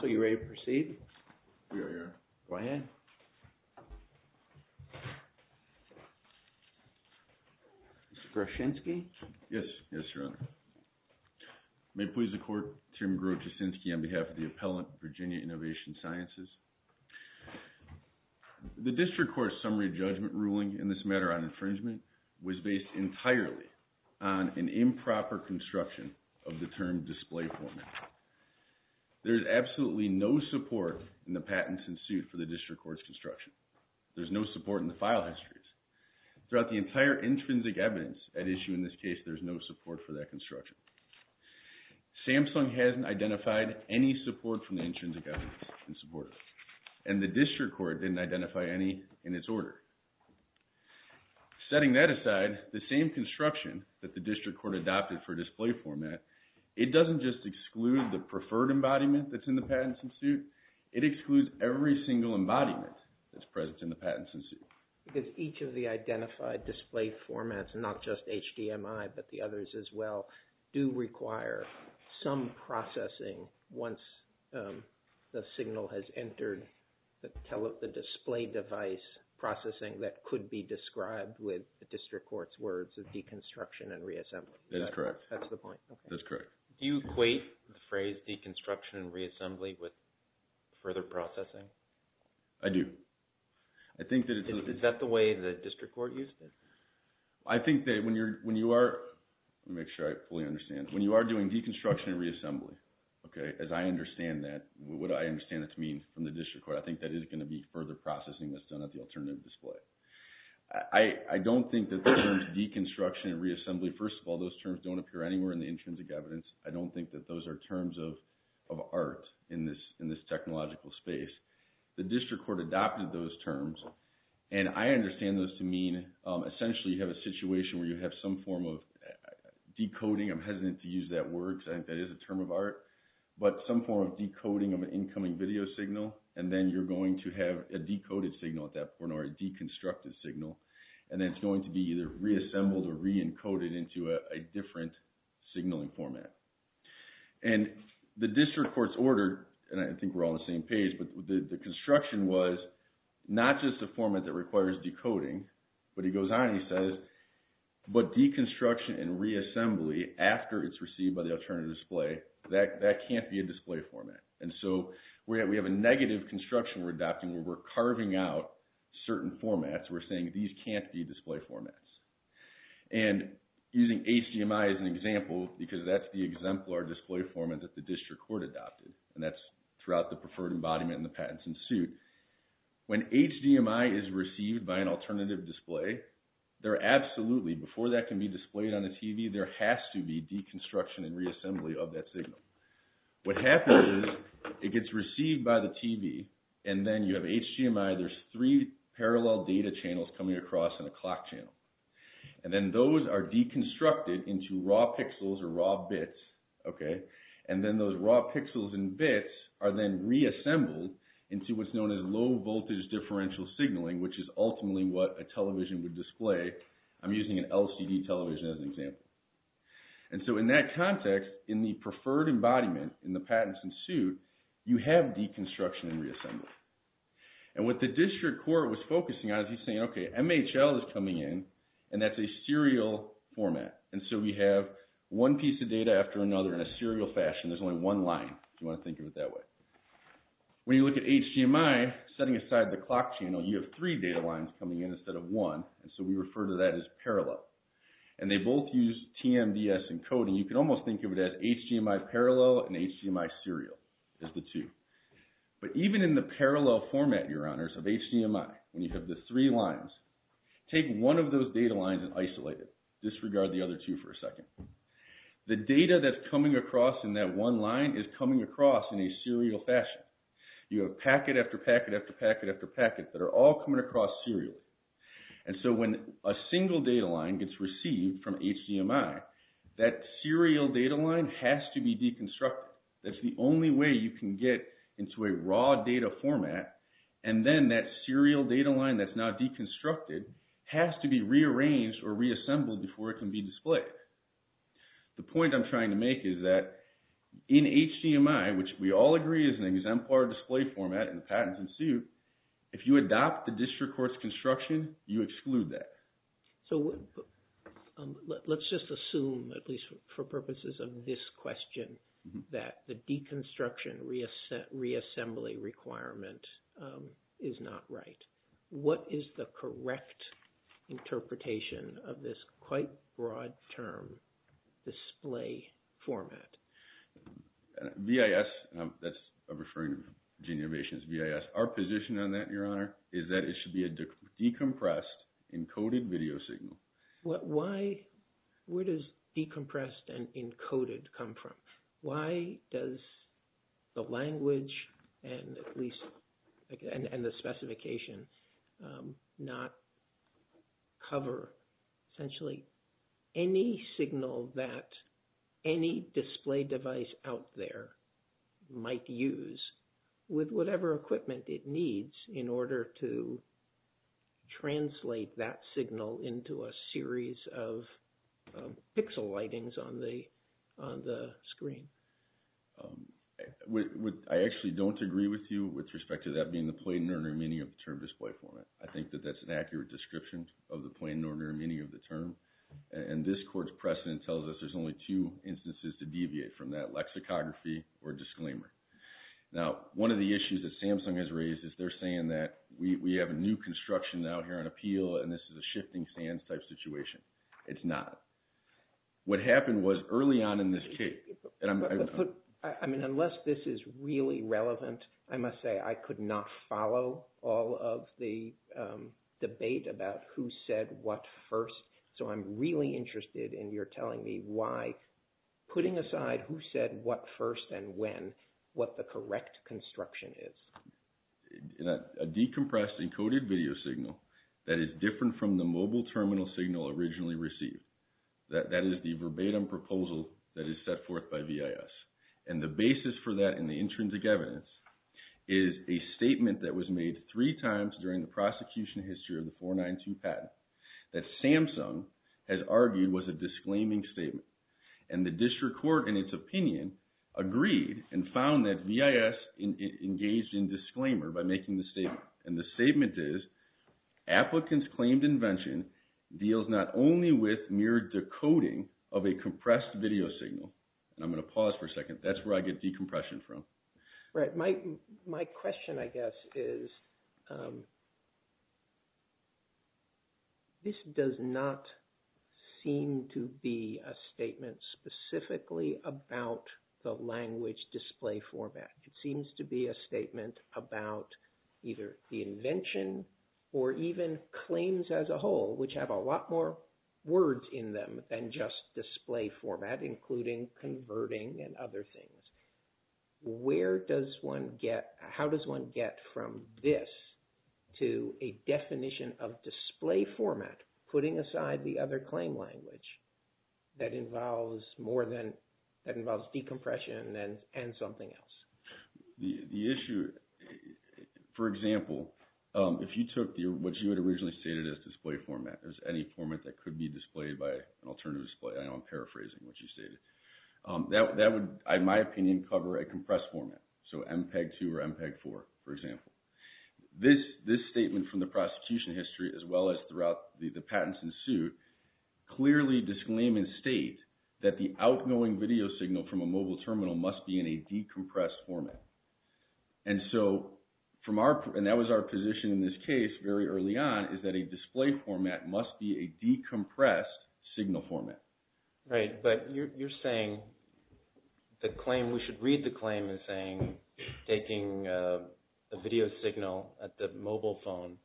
So, you ready to proceed? We are, Your Honor. Go ahead. Mr. Groschinsky? Yes, yes, Your Honor. May it please the Court, Chairman Groschinsky, on behalf of the Appellant, Virginia Innovation Sciences. The District Court's summary judgment ruling in this matter on infringement was based entirely on an improper construction of the term display foreman. There is absolutely no support in the patents in suit for the District Court's construction. There's no support in the file histories. Throughout the entire intrinsic evidence at issue in this case, there's no support for that construction. Samsung hasn't identified any support from the intrinsic evidence in support, and the District Court didn't identify any in its order. Setting that aside, the same construction that the District Court adopted for display format, it doesn't just exclude the preferred embodiment that's in the patents in suit. It excludes every single embodiment that's present in the patents in suit. Because each of the identified display formats, not just HDMI, but the others as well, do require some processing once the signal has entered the display device processing that could be described with the District Court's words of deconstruction and reassembling. That's correct. That's the point. That's correct. Do you equate the phrase deconstruction and reassembly with further processing? I do. Is that the way the District Court used it? I think that when you are, let me make sure I fully understand, when you are doing deconstruction and reassembly, okay, as I understand that, what I understand it to mean from the District Court, I think that is going to be further processing that's done at the alternative display. I don't think that the terms deconstruction and reassembly don't appear anywhere in the intrinsic evidence. I don't think that those are terms of art in this technological space. The District Court adopted those terms, and I understand those to mean, essentially, you have a situation where you have some form of decoding, I'm hesitant to use that word because I think that is a term of art, but some form of decoding of an incoming video signal. And then you're going to have a decoded signal at that point, or a deconstructed signal. And then it's going to be either reassembled or re-encoded into a different signaling format. And the District Court's order, and I think we're all on the same page, but the construction was not just a format that requires decoding, but he goes on and he says, but deconstruction and reassembly after it's received by the alternative display, that can't be a display format. And so we have a negative construction we're adopting where we're carving out certain formats, we're saying these can't be display formats. And using HDMI as an example, because that's the exemplar display format that the District Court adopted, and that's throughout the preferred embodiment and the patents in suit. When HDMI is received by an alternative display, there absolutely, before that can be displayed on a TV, there has to be deconstruction and reassembly of that signal. What happens is it gets received by the TV, and then you have HDMI, there's three parallel data channels coming across in a clock channel. And then those are deconstructed into raw pixels or raw bits, okay? And then those raw pixels and bits are then reassembled into what's known as low voltage differential signaling, which is ultimately what a television would display. I'm using an LCD television as an example. And so in that context, in the preferred embodiment, in the patents in suit, you have deconstruction and reassembly. And what the District Court was focusing on is he's saying, okay, MHL is coming in, and that's a serial format. And so we have one piece of data after another in a serial fashion, there's only one line, if you want to think of it that way. When you look at HDMI, setting aside the clock channel, you have three data lines coming in and they both use TMDS encoding. You can almost think of it as HDMI parallel and HDMI serial is the two. But even in the parallel format, your honors, of HDMI, when you have the three lines, take one of those data lines and isolate it, disregard the other two for a second. The data that's coming across in that one line is coming across in a serial fashion. You have packet after packet after packet after packet that are all coming across serially. And so when a single data line gets received from HDMI, that serial data line has to be deconstructed. That's the only way you can get into a raw data format. And then that serial data line that's now deconstructed has to be rearranged or reassembled before it can be displayed. The point I'm trying to make is that in HDMI, which we all agree is an exemplar display format and the patents ensue, if you adopt the district court's construction, you exclude that. So let's just assume, at least for purposes of this question, that the deconstruction reassembly requirement is not right. What is the correct interpretation of this quite broad term display format? VIS, that's a referring to Gene Yovation's VIS. Our position on that, your honor, is that it should be a decompressed encoded video signal. Where does decompressed and encoded come from? Why does the language and the specification not cover essentially any signal that any display device out there might use with whatever equipment it needs in order to translate that signal into a series of pixel lightings on the screen? I actually don't agree with you with respect to that being the plain ordinary meaning of the term display format. I think that that's an accurate description of the plain ordinary meaning of the term. And this court's precedent tells us there's only two instances to deviate from that lexicography or disclaimer. Now one of the issues that Samsung has raised is they're saying that we have a new construction out here on appeal and this is a shifting sands type situation. It's not. What happened was early on in this case, and I mean unless this is really relevant, I must say I could not follow all of the debate about who said what first. So I'm really interested in your telling me why, putting aside who said what first and when, what the correct construction is. A decompressed encoded video signal that is different from the mobile terminal signal originally received, that is the verbatim proposal that is set forth by VIS. And the basis for that in the intrinsic evidence is a statement that was made three times during the prosecution history of the 492 patent that Samsung has argued was a disclaiming statement. And the district court in its opinion agreed and found that VIS engaged in disclaimer by making the statement. And the statement is, applicants claimed invention deals not only with mere decoding of a compressed video signal. And I'm going to pause for a second. That's where I get decompression from. Right. My question, I guess, is this does not seem to be a statement specifically about the language display format. It seems to be a statement about either the invention or even claims as a whole, which have a lot more words in them than just display format, including converting and other things. Where does one get, how does one get from this to a definition of display format, putting aside the other claim language that involves decompression and something else? The issue, for example, if you took what you had originally stated as display format, there's any format that could be displayed by an alternative display. I know I'm paraphrasing what you stated. That would, in my opinion, cover a compressed format. So MPEG-2 or MPEG-4, for example. This statement from the prosecution history, as well as throughout the patents in suit, clearly disclaim and state that the outgoing video signal from a mobile terminal must be in a decompressed format. And so from our, and that was our position in this case very early on, is that a display format must be a decompressed signal format. Right. But you're saying the claim, we should read the claim as saying, taking a video signal at the mobile phone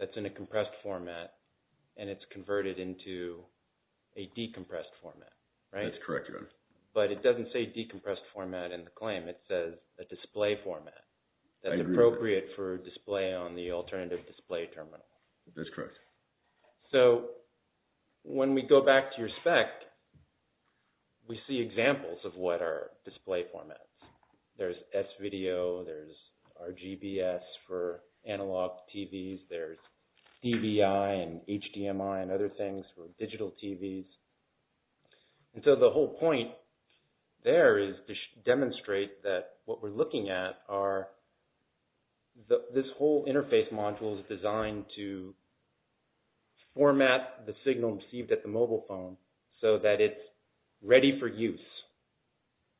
that's in a compressed format and it's converted into a decompressed format, right? That's correct, your honor. But it doesn't say decompressed format in the claim. It says a display format that's appropriate for display on the alternative display terminal. That's correct. So when we go back to your spec, we see examples of what are display formats. There's S-video, there's RGBS for analog TVs, there's DBI and HDMI and other things for digital TVs. And so the whole point there is to demonstrate that what we're looking at are this whole interface module is designed to format the signal received at the mobile phone so that it's ready for use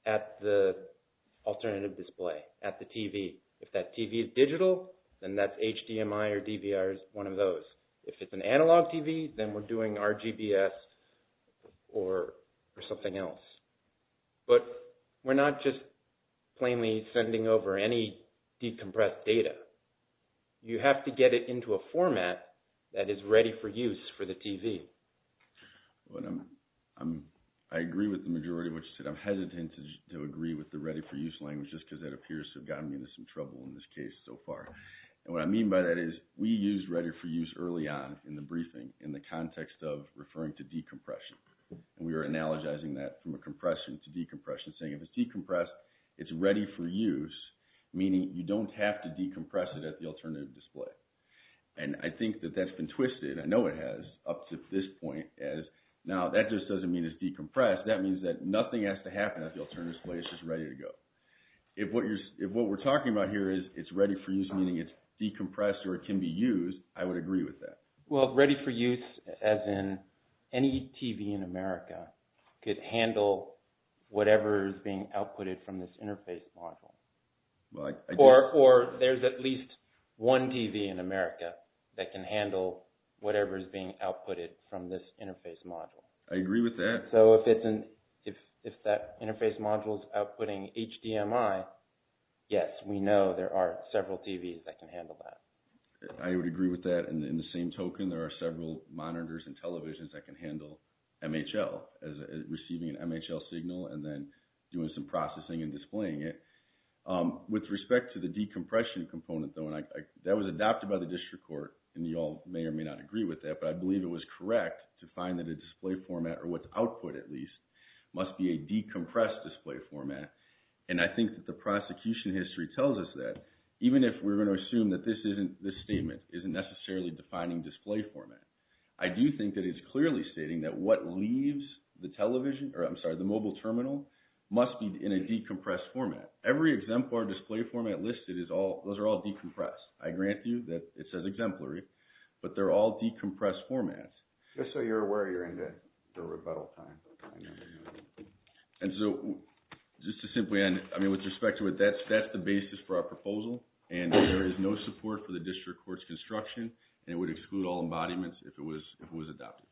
at the alternative display, at the TV. If that TV is digital, then that's HDMI or DVR is one of those. If it's an analog TV, then we're doing RGBS or something else. But we're not just plainly sending over any decompressed data. You have to get it into a format that is ready for use for the TV. I agree with the majority of what you said. I'm hesitant to agree with the ready-for-use language just because that appears to have gotten me into some trouble in this case so far. And what I mean by that is we use ready-for-use early on in the briefing in the context of referring to decompression. And we are analogizing that from a compression to decompression, saying if it's decompressed, it's ready for use, meaning you don't have to decompress it at the alternative display. And I think that that's been twisted. I know it has up to this point. Now, that just doesn't mean it's decompressed. That means that nothing has to happen at the alternative display. It's just ready to go. If what we're talking about here is it's ready for use, meaning it's decompressed or it can be used, I would agree with that. Well, ready for use, as in any TV in America, could handle whatever is being outputted from this interface module. Or there's at least one TV in America that can handle whatever is being outputted from this interface module. I agree with that. So if that interface module is outputting HDMI, yes, we know there are several TVs that can handle that. I would agree with that. And in the same token, there are several monitors and televisions that can handle MHL as receiving an MHL signal and then doing some processing and displaying it. With respect to the decompression component, though, and that was adopted by the district court, and you all may or may not agree with that, but I believe it was correct to find that a display format, or what's output at least, must be a decompressed display format. And I think that the prosecution history tells us that. Even if we're going to assume that this statement isn't necessarily defining display format. I do think that it's clearly stating that what leaves the television, or I'm sorry, the mobile terminal, must be in a decompressed format. Every exemplar display format listed is all, those are all decompressed. I grant you that it says exemplary, but they're all decompressed formats. Just so you're aware, you're into the rebuttal time. And so, just to simply end, I mean, with respect to it, that's the basis for our proposal. And there is no support for the district court's construction, and it would exclude all embodiments if it was adopted.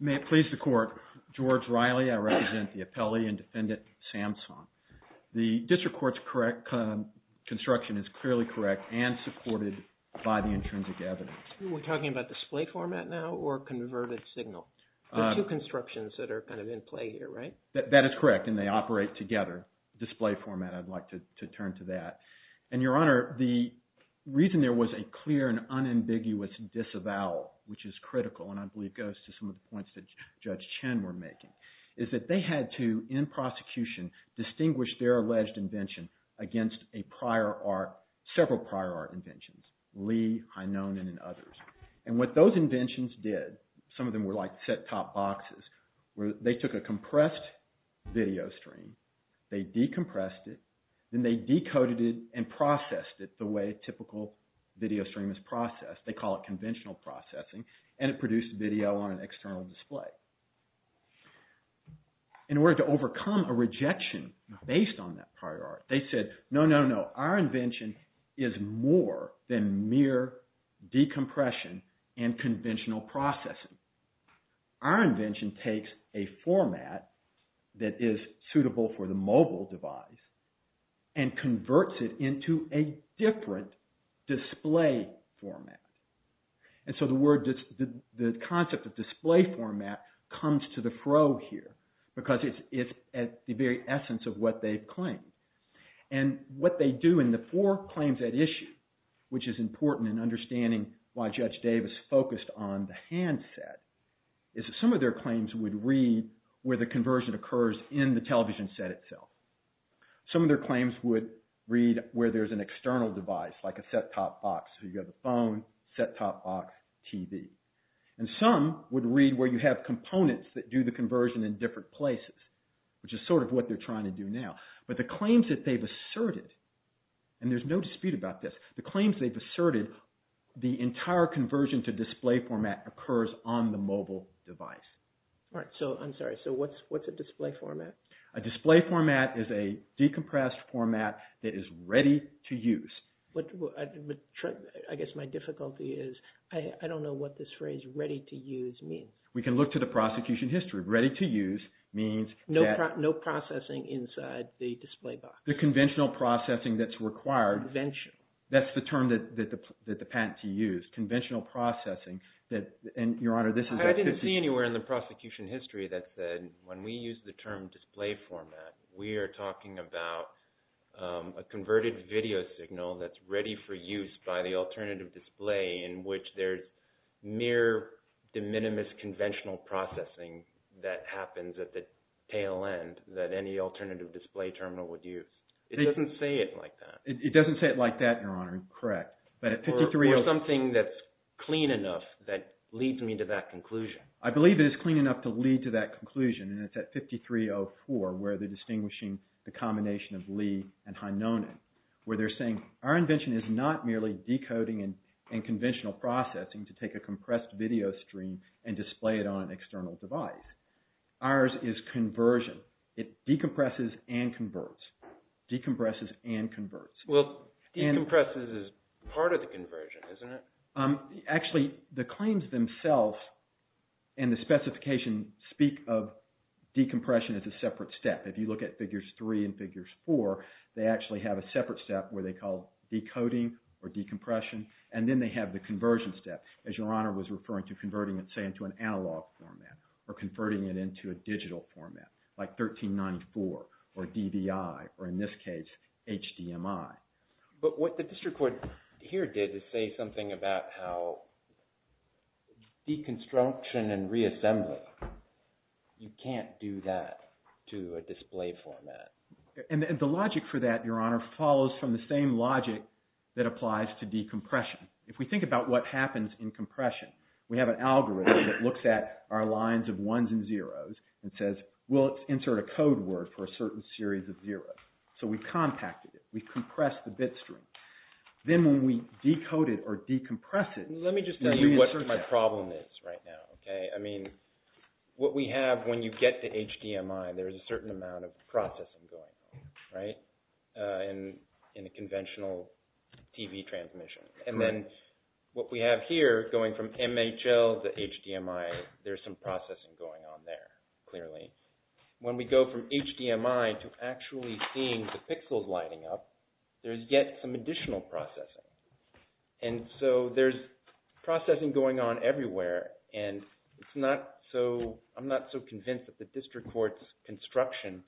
May it please the court, George Riley, I represent the appellee and defendant, Samson. The district court's construction is clearly correct and supported by the intrinsic evidence. We're talking about display format now, or converted signal? There are two constructions that are kind of in play here, right? That is correct, and they operate together. Display format, I'd like to turn to that. And Your Honor, the reason there was a clear and unambiguous disavowal, which is critical, and I believe goes to some of the points that Judge Chen were making, is that they had to, in prosecution, distinguish their alleged invention against a prior art, several prior art inventions, Lee, Hynonen, and others. And what those inventions did, some of them were set-top boxes, where they took a compressed video stream, they decompressed it, then they decoded it and processed it the way a typical video stream is processed. They call it conventional processing, and it produced video on an external display. In order to overcome a rejection based on that prior art, they said, no, no, no, our invention is more than mere decompression and conventional processing. Our invention takes a format that is suitable for the mobile device and converts it into a different display format. And so the concept of display format comes to the fro here, because it's at the very essence of what they've claimed. And what they do in the four claims at issue, which is important in understanding why Judge Davis focused on the hand set, is that some of their claims would read where the conversion occurs in the television set itself. Some of their claims would read where there's an external device, like a set-top box, so you have a phone, set-top box, TV. And some would read where you have components that do the conversion in different places, which is sort of what they're trying to do now. But the claims that they've asserted, and there's no dispute about this, the claims they've asserted, the entire conversion to display format occurs on the mobile device. All right, so I'm sorry, so what's a display format? A display format is a decompressed format that is ready to use. I guess my difficulty is, I don't know what this phrase ready to use means. We can look to the prosecution history. Ready to use means that... No processing inside the display box. The conventional processing that's required. Convention. That's the term that the patentee used. Conventional processing. And Your Honor, this is... I didn't see anywhere in the prosecution history that said, when we use the term display format, we are talking about a converted video signal that's ready for use by the alternative display in which there's mere de minimis conventional processing that happens at the tail end that any alternative display terminal would use. It doesn't say it like that. It doesn't say it like that, Your Honor. Correct. But at 53... Or something that's clean enough that leads me to that conclusion. I believe it is clean enough to lead to that conclusion, and it's at 5304, where they're distinguishing the combination of Li and Hinonen, where they're saying, our invention is not merely decoding and conventional processing to take a compressed video stream and display it on an external device. Ours is conversion. It decompresses and converts. Decompresses and converts. Well, decompresses is part of the conversion, isn't it? Actually, the claims themselves and the specification speak of decompression as a separate step. If you look at Figures 3 and Figures 4, they actually have a separate step where they call decoding or decompression, and then they have the conversion step, as Your Honor was referring to converting it, say, into an analog format or converting it a digital format, like 1394 or DVI, or in this case, HDMI. But what the district court here did is say something about how deconstruction and reassembly, you can't do that to a display format. And the logic for that, Your Honor, follows from the same logic that applies to decompression. If we think about what happens in compression, we have an algorithm that looks at our lines of ones and zeros and says, well, let's insert a code word for a certain series of zeros. So we've compacted it. We've compressed the bit stream. Then when we decode it or decompress it... Let me just tell you what my problem is right now, okay? I mean, what we have when you get to HDMI, there's a certain amount of processing going on, right, in a conventional TV transmission. And then what we have here going from MHL to HDMI, there's some processing going on there, clearly. When we go from HDMI to actually seeing the pixels lighting up, there's yet some additional processing. And so there's processing going on everywhere. And I'm not so convinced that the district court's construction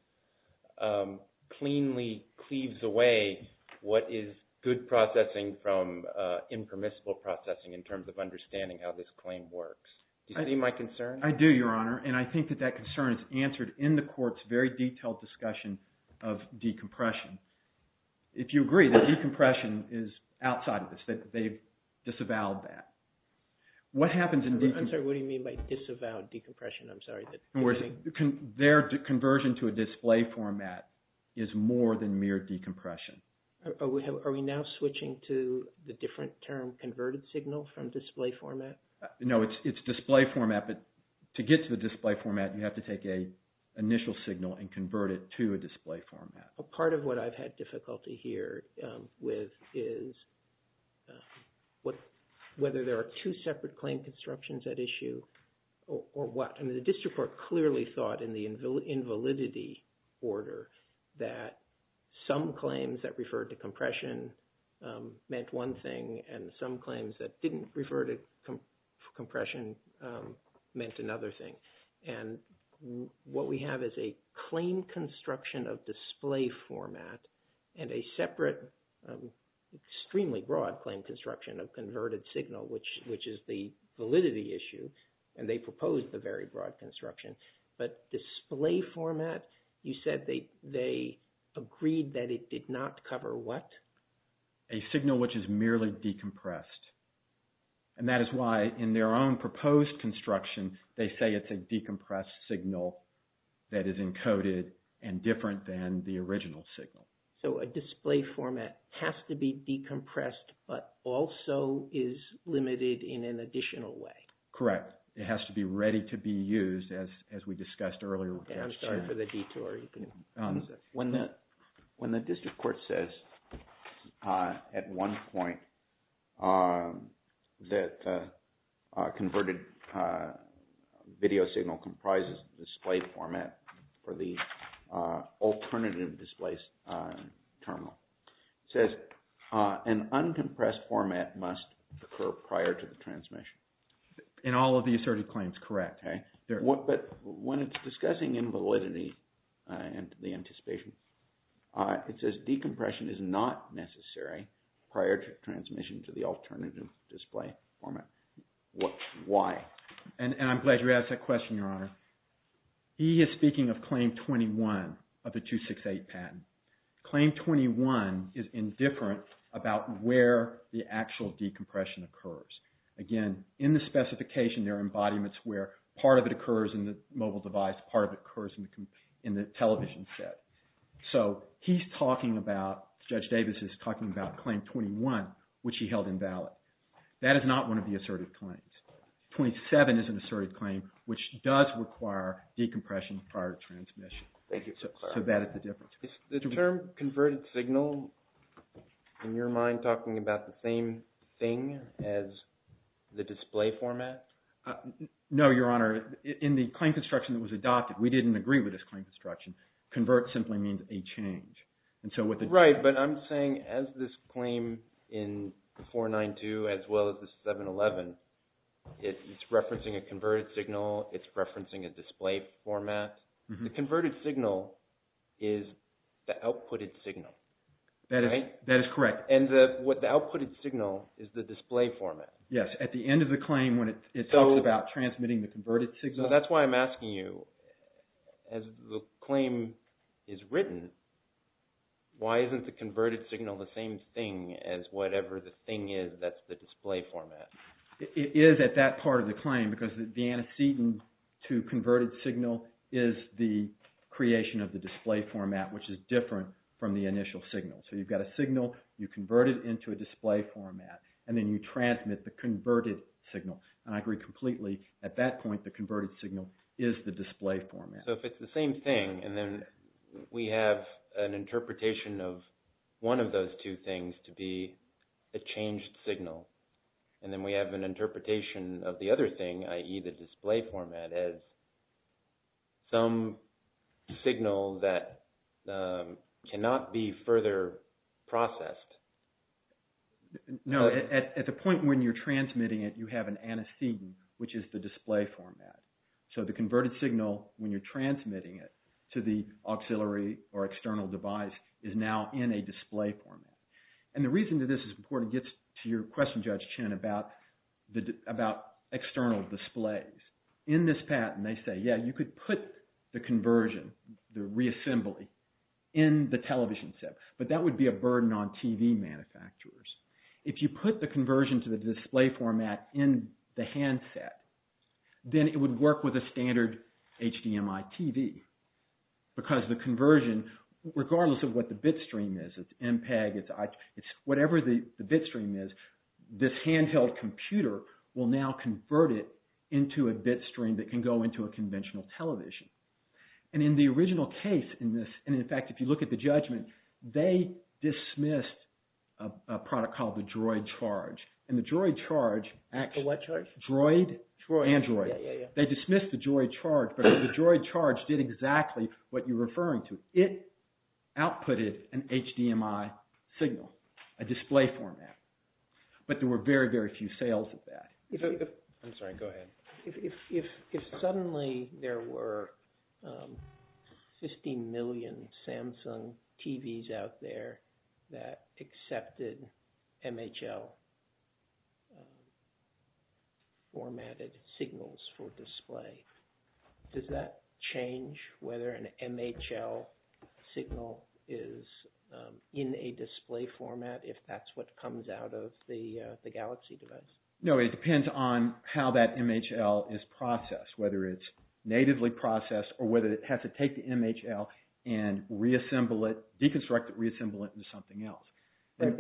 cleanly cleaves away what is good processing from impermissible processing in terms of understanding how this claim works. Do you see my concern? I do, Your Honor. And I think that that concern is answered in the court's very detailed discussion of decompression. If you agree that decompression is outside of this, that they've disavowed that. What happens in decompression... I'm sorry, what do you mean by disavowed decompression? I'm sorry. Their conversion to a display format is more than mere decompression. Are we now switching to the different term converted signal from display format? No, it's display format. But to get to the display format, you have to take a initial signal and convert it to a display format. Part of what I've had difficulty here with is whether there are two separate claim constructions at issue or what. And the district court clearly thought in the invalidity order that some claims that referred to compression meant one thing and some claims that didn't refer to compression meant another thing. And what we have is a claim construction of display format and a separate, extremely broad claim construction of converted signal, which is the validity issue. And they proposed the very broad construction. But display format, you said they agreed that it did not cover what? A signal which is merely decompressed. And that is why in their own proposed construction, they say it's a decompressed signal that is encoded and different than the original signal. So a display format has to be decompressed, but also is limited in an additional way. Correct. It has to be ready to be used as we discussed earlier. I'm sorry for the detour. When the district court says at one point that converted video signal comprises display format for the alternative displaced terminal, it says an uncompressed format must occur prior to the transmission. In all of the asserted claims, correct. But when it's discussing invalidity and the anticipation, it says decompression is not necessary prior to transmission to the alternative display format. Why? And I'm glad you asked that question, Your Honor. He is speaking of claim 21 of the 268 patent. Claim 21 is indifferent about where the actual decompression occurs. Again, in the specification, there are embodiments where part of it occurs in the mobile device, part of it occurs in the television set. So he's talking about, Judge Davis is talking about claim 21, which he held invalid. That is not one of the asserted claims. 27 is an asserted claim, which does require decompression prior to transmission. Thank you, sir. So that is the difference. The term converted signal, in your mind, talking about the same thing as the display format? No, Your Honor. In the claim construction that was adopted, we didn't agree with this claim construction. Convert simply means a change. And so what the... Right. But I'm saying as this claim in 492 as well as the 711, it's referencing a converted signal, it's referencing a display format. The converted signal is the outputted signal. That is correct. And what the outputted signal is the display format. Yes. At the end of the claim, when it's... About transmitting the converted signal. So that's why I'm asking you, as the claim is written, why isn't the converted signal the same thing as whatever the thing is that's the display format? It is at that part of the claim because the antecedent to converted signal is the creation of the display format, which is different from the initial signal. So you've got a signal, you convert it into a display format, and then you transmit the converted signal. And I agree completely, at that point, the converted signal is the display format. So if it's the same thing, and then we have an interpretation of one of those two things to be a changed signal, and then we have an interpretation of the other thing, i.e. the display format as some signal that cannot be further processed. No. At the point when you're transmitting it, you have an antecedent, which is the display format. So the converted signal, when you're transmitting it to the auxiliary or external device, is now in a display format. And the reason that this is important gets to your question, Judge Chen, about external displays. In this patent, they say, yeah, you could put the conversion, the reassembly, in the television set, but that would be a burden on TV manufacturers. If you put the conversion to the display format in the handset, then it would work with a standard HDMI TV, because the conversion, regardless of what the bitstream is, it's MPEG, it's whatever the bitstream is, this handheld computer will now convert it into a bitstream that can go into a TV. In the original case in this, and in fact, if you look at the judgment, they dismissed a product called the Droid Charge. And the Droid Charge... The what charge? Droid and Droid. They dismissed the Droid Charge, but the Droid Charge did exactly what you're referring to. It outputted an HDMI signal, a display format. But there were very, very few sales of that. I'm sorry, go ahead. If suddenly there were 50 million Samsung TVs out there that accepted MHL formatted signals for display, does that change whether an MHL signal is in a display format, if that's what comes out of the Galaxy device? No, it depends on how that MHL is processed, whether it's natively processed or whether it has to take the MHL and reassemble it, deconstruct it, reassemble it into something else. But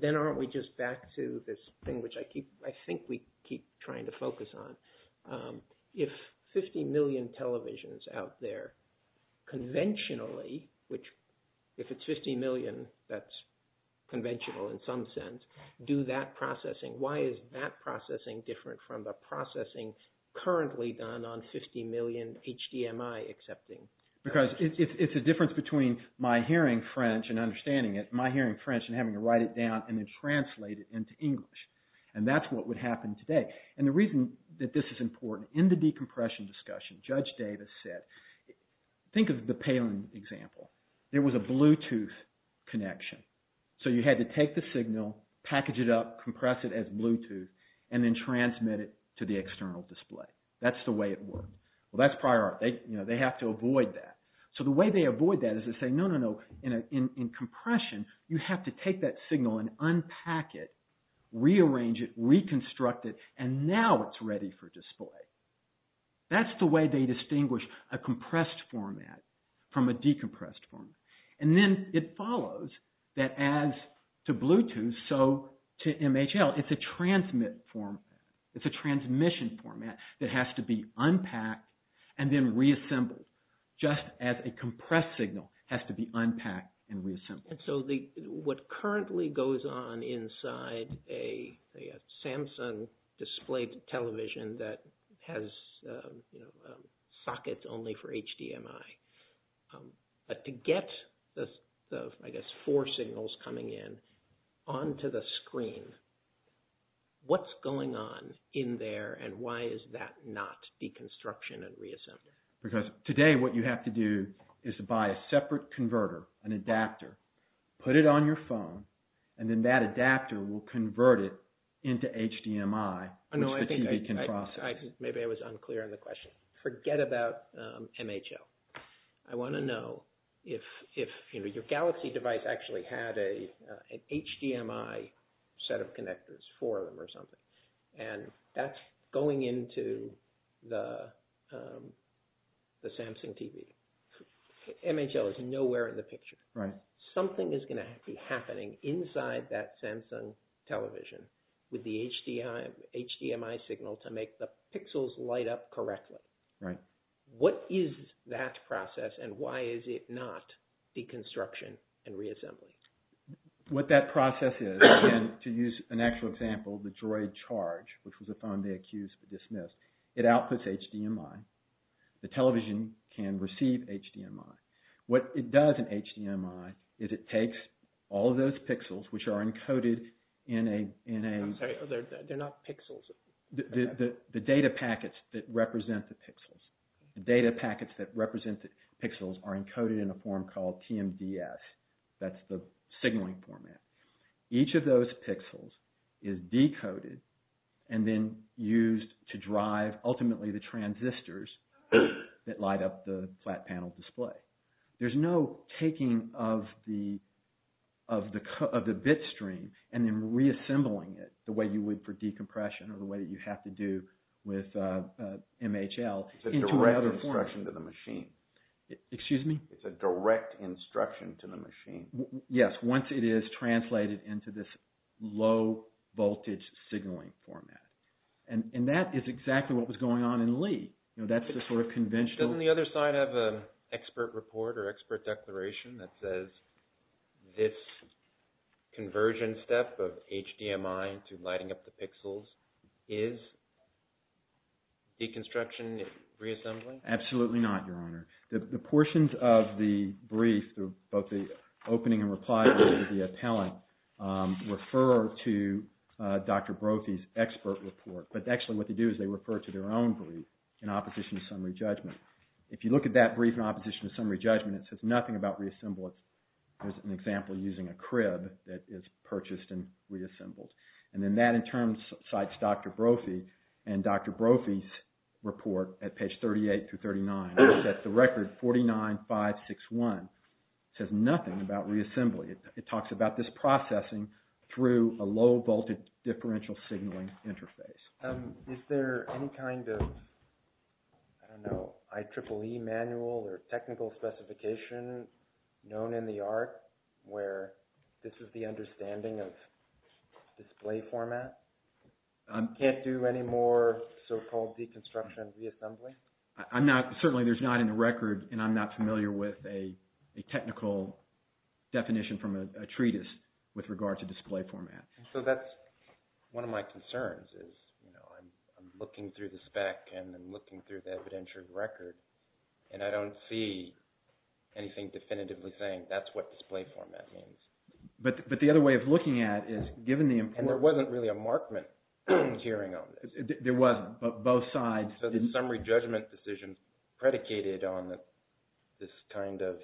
then aren't we just back to this thing, which I think we keep trying to focus on. If 50 million televisions out there, conventionally, which if it's 50 million, that's conventional in some sense, do that processing. Why is that processing different from the processing currently done on 50 million HDMI accepting? Because it's a difference between my hearing French and understanding it, my hearing French and having to write it down and then translate it into English. And that's what would happen today. And the reason that this is important, in the decompression discussion, Judge Davis said, think of the Palin example. There was a Bluetooth connection. So you had to take the signal, package it up, compress it as Bluetooth, and then transmit it to the external display. That's the way it worked. Well, that's prior art. They have to avoid that. So the way they avoid that is to say, no, no, no, in compression, you have to take that signal and unpack it, rearrange it, reconstruct it, and now it's ready for display. That's the way they distinguish a compressed format from a decompressed format. And then it follows that as to Bluetooth, so to MHL, it's a transmit format. It's a transmission format that has to be unpacked and then reassembled, just as a compressed signal has to be unpacked and has sockets only for HDMI. But to get the, I guess, four signals coming in onto the screen, what's going on in there and why is that not deconstruction and reassembly? Because today what you have to do is to buy a separate converter, an adapter, put it on your screen, and then you're good to go. I'm not sure I was unclear on the question. Forget about MHL. I want to know if your Galaxy device actually had an HDMI set of connectors for them or something, and that's going into the Samsung TV. MHL is nowhere in the picture. Something is going to be happening inside that Samsung television with the HDMI signal to make the pixels light up correctly. What is that process and why is it not deconstruction and reassembly? What that process is, and to use an actual example, the Droid Charge, which was a phone they accused but dismissed, it outputs HDMI. The television can receive HDMI. What it does in all of those pixels, which are encoded in a... I'm sorry, they're not pixels. The data packets that represent the pixels. The data packets that represent the pixels are encoded in a form called TMDS. That's the signaling format. Each of those pixels is decoded and then used to drive, ultimately, the transistors that light up the flat panel display. There's no taking of the bit stream and then reassembling it the way you would for decompression or the way that you have to do with MHL. It's a direct instruction to the machine. Excuse me? It's a direct instruction to the machine. Yes, once it is translated into this low voltage signaling format. That is exactly what was going on in Lee. That's the sort of conventional... Doesn't the other side have an expert report or expert declaration that says this conversion step of HDMI to lighting up the pixels is deconstruction, reassembling? Absolutely not, Your Honor. The portions of the brief, both the opening and reply to the appellant, refer to Dr. Brophy's expert report. But actually what they do is they refer to their own brief in opposition to summary judgment. If you look at that brief in opposition to summary judgment, it says nothing about reassembly. There's an example using a crib that is purchased and reassembled. And then that in turn cites Dr. Brophy and Dr. Brophy's report at page 38 through 39. That's the record 49561. It says nothing about reassembly. It talks about this processing through a low voltage differential signaling interface. Is there any kind of, I don't know, IEEE manual or technical specification known in the art where this is the understanding of display format? You can't do any more so-called deconstruction and reassembly? I'm not... Certainly there's not in the record, and I'm not familiar with a technical definition from a treatise with regard to display format. So that's one of my concerns is I'm looking through the spec and I'm looking through the evidentiary record, and I don't see anything definitively saying that's what display format means. But the other way of looking at it is given the importance... And there wasn't really a markment hearing on this. There was, but both sides... So the summary judgment decision predicated on this kind of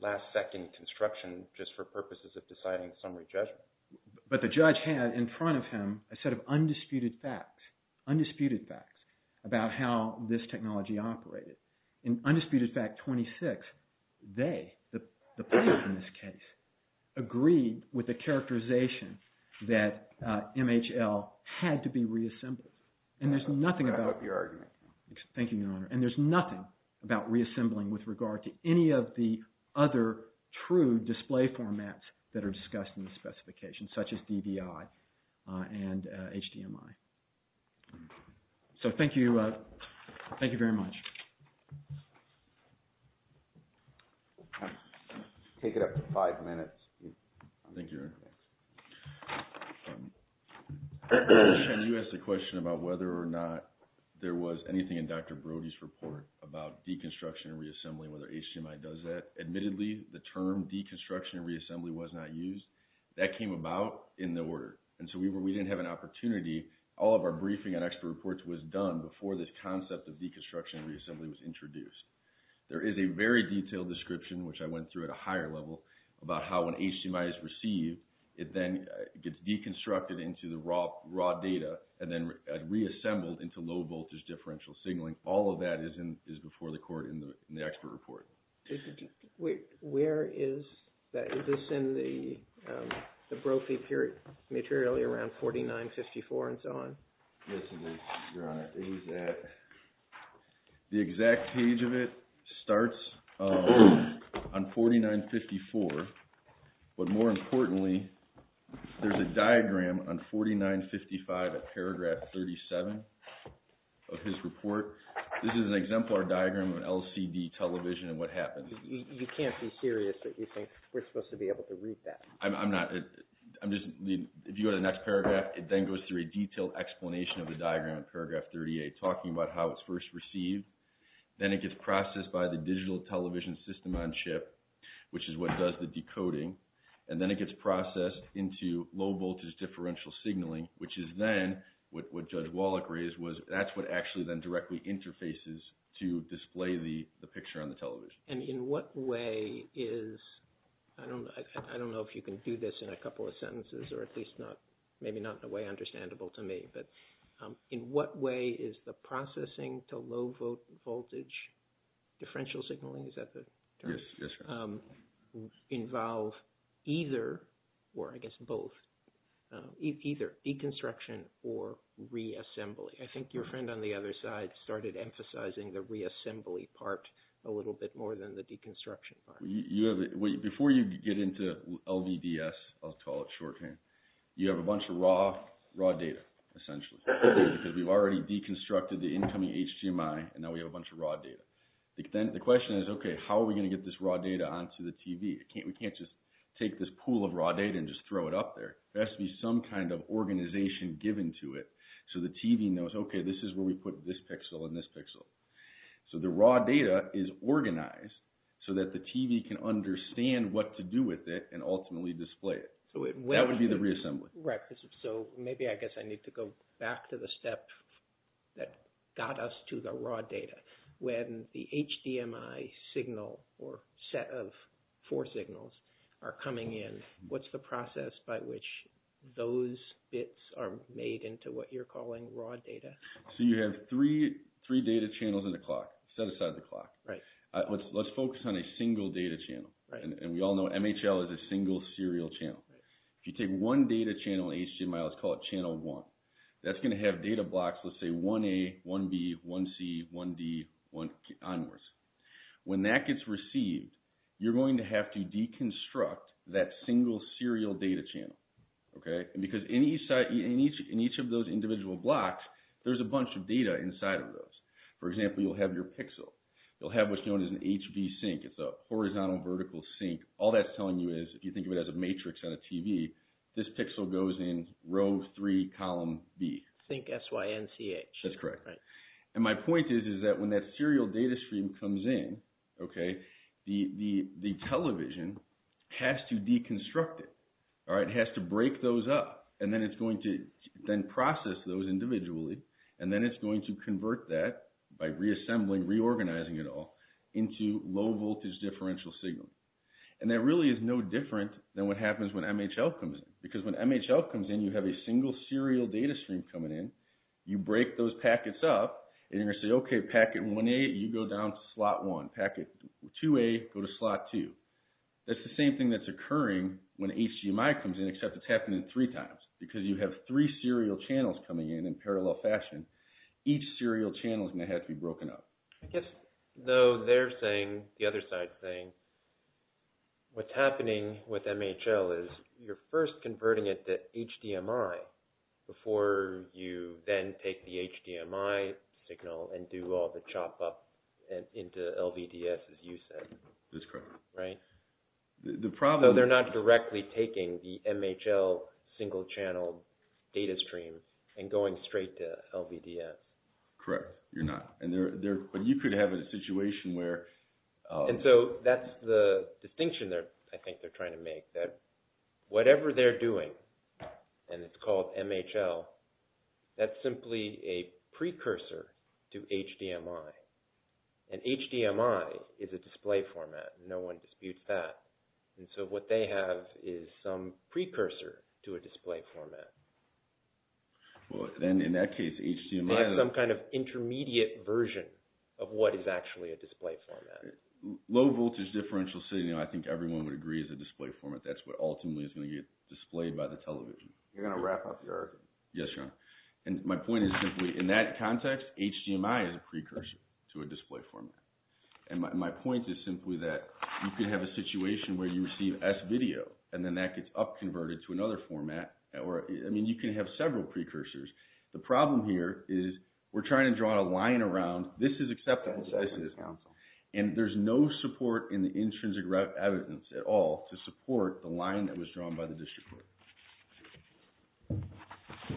last second construction just for purposes of deciding summary judgment. But the judge had in front of him a set of undisputed facts, undisputed facts about how this technology operated. In undisputed fact 26, they, the players in this case, agreed with the characterization that MHL had to be reassembled. And there's nothing about... I hope you're arguing. Thank you, Your Honor. And there's nothing about reassembling with regard to any of the other true display formats that are discussed in the specification, such as DDI and HDMI. So thank you. Thank you very much. Take it up to five minutes. Thank you, Your Honor. Sean, you asked a question about whether or not there was anything in Dr. Brody's report about deconstruction and reassembly, whether HDMI does that. Admittedly, the term deconstruction and reassembly was not used. That came about in the order. And so we didn't have an opportunity. All of our briefing and expert reports was done before this concept of deconstruction and reassembly was introduced. There is a very detailed description, which I went through at higher level, about how when HDMI is received, it then gets deconstructed into the raw data and then reassembled into low voltage differential signaling. All of that is before the court in the expert report. Where is that? Is this in the Brophy period, materially around 4954 and so on? Yes, it is, Your Honor. The exact page of it starts on 4954, but more importantly, there's a diagram on 4955 at paragraph 37 of his report. This is an exemplar diagram of LCD television and what happens. You can't be serious that you think we're supposed to be able to read that. I'm not. If you go to the next paragraph, it then goes through a detailed explanation of the diagram in paragraph 38, talking about how it's first received. Then it gets processed by the digital television system on chip, which is what does the decoding. And then it gets processed into low voltage differential signaling, which is then what Judge Wallach raised. That's what actually then directly interfaces to display the picture on the television. And in what way is, I don't know if you can do this in a couple of sentences or at least not, maybe not in a way understandable to me, but in what way is the processing to low voltage differential signaling, is that the term? Yes, Your Honor. Involve either, or I guess both, either deconstruction or reassembly. I think your friend on the other side started emphasizing the reassembly part a little bit more than the deconstruction part. Before you get into LVDS, I'll call it shorthand, you have a bunch of raw data, essentially, because we've already deconstructed the incoming HDMI, and now we have a bunch of raw data. The question is, okay, how are we going to get this raw data onto the TV? We can't just take this pool of raw data and just throw it up there. There has to be some kind of organization given to it so the TV knows, okay, this is where we put this pixel and this pixel. The raw data is organized so that the TV can understand what to do with it and ultimately display it. That would be the reassembly. Right. Maybe I guess I need to go back to the step that got us to the raw data. When the HDMI signal or set of four signals are coming in, what's the process by which those bits are made into what you're calling raw data? You have three data channels in the clock, set aside the clock. Let's focus on a single data channel. We all know MHL is a single serial channel. If you take one data channel in HDMI, let's call it channel one, that's going to have data blocks, let's say 1A, 1B, 1C, 1D, onwards. When that gets received, you're going to have to deconstruct that single serial data channel. Because in each of those individual blocks, there's a bunch of data inside of those. For example, you'll have your pixel. You'll have what's known as an HV sync. It's a horizontal, vertical sync. All that's telling you is, if you think of it as a matrix on a TV, this pixel goes in row three, column B. Sync SYNCH. That's correct. My point is that when that serial data stream comes in, the television has to deconstruct it. It has to break those up, and then it's going to then process those individually. Then it's going to convert that by reassembling, reorganizing it all into low voltage differential signal. That really is no different than what happens when MHL comes in. Because when MHL comes in, you have a single serial data stream coming in. You break those packets up, and you're going to say, okay, packet 1A, you go down to slot 1. Packet 2A, go to slot 2. That's the same thing that's occurring when HDMI comes in, except it's happening three times. Because you have three serial channels coming in in parallel fashion, each serial channel is going to have to be broken up. I guess though they're saying the other side thing, what's happening with MHL is you're first converting it to HDMI before you then take the HDMI signal and do all the chop up into LVDS, as you said. That's correct. So they're not directly taking the MHL single-channel data stream and going straight to LVDS. Correct. You're not. But you could have a situation where... And so that's the distinction I think they're trying to make, that whatever they're doing, and it's called MHL, that's simply a precursor to HDMI. And HDMI is a display format. No one disputes that. And so what they have is some precursor to a display format. Well, then in that case, HDMI... ...intermediate version of what is actually a display format. Low voltage differential signal, I think everyone would agree is a display format. That's what ultimately is going to get displayed by the television. You're going to wrap up the argument. Yes, Your Honor. And my point is simply, in that context, HDMI is a precursor to a display format. And my point is simply that you could have a situation where you receive S-video, and then that gets upconverted to another format. I mean, you can have several precursors. The problem here is we're trying to draw a line around, this is acceptable size to this counsel, and there's no support in the intrinsic evidence at all to support the line that was drawn by the district court.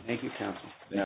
Thank you, counsel.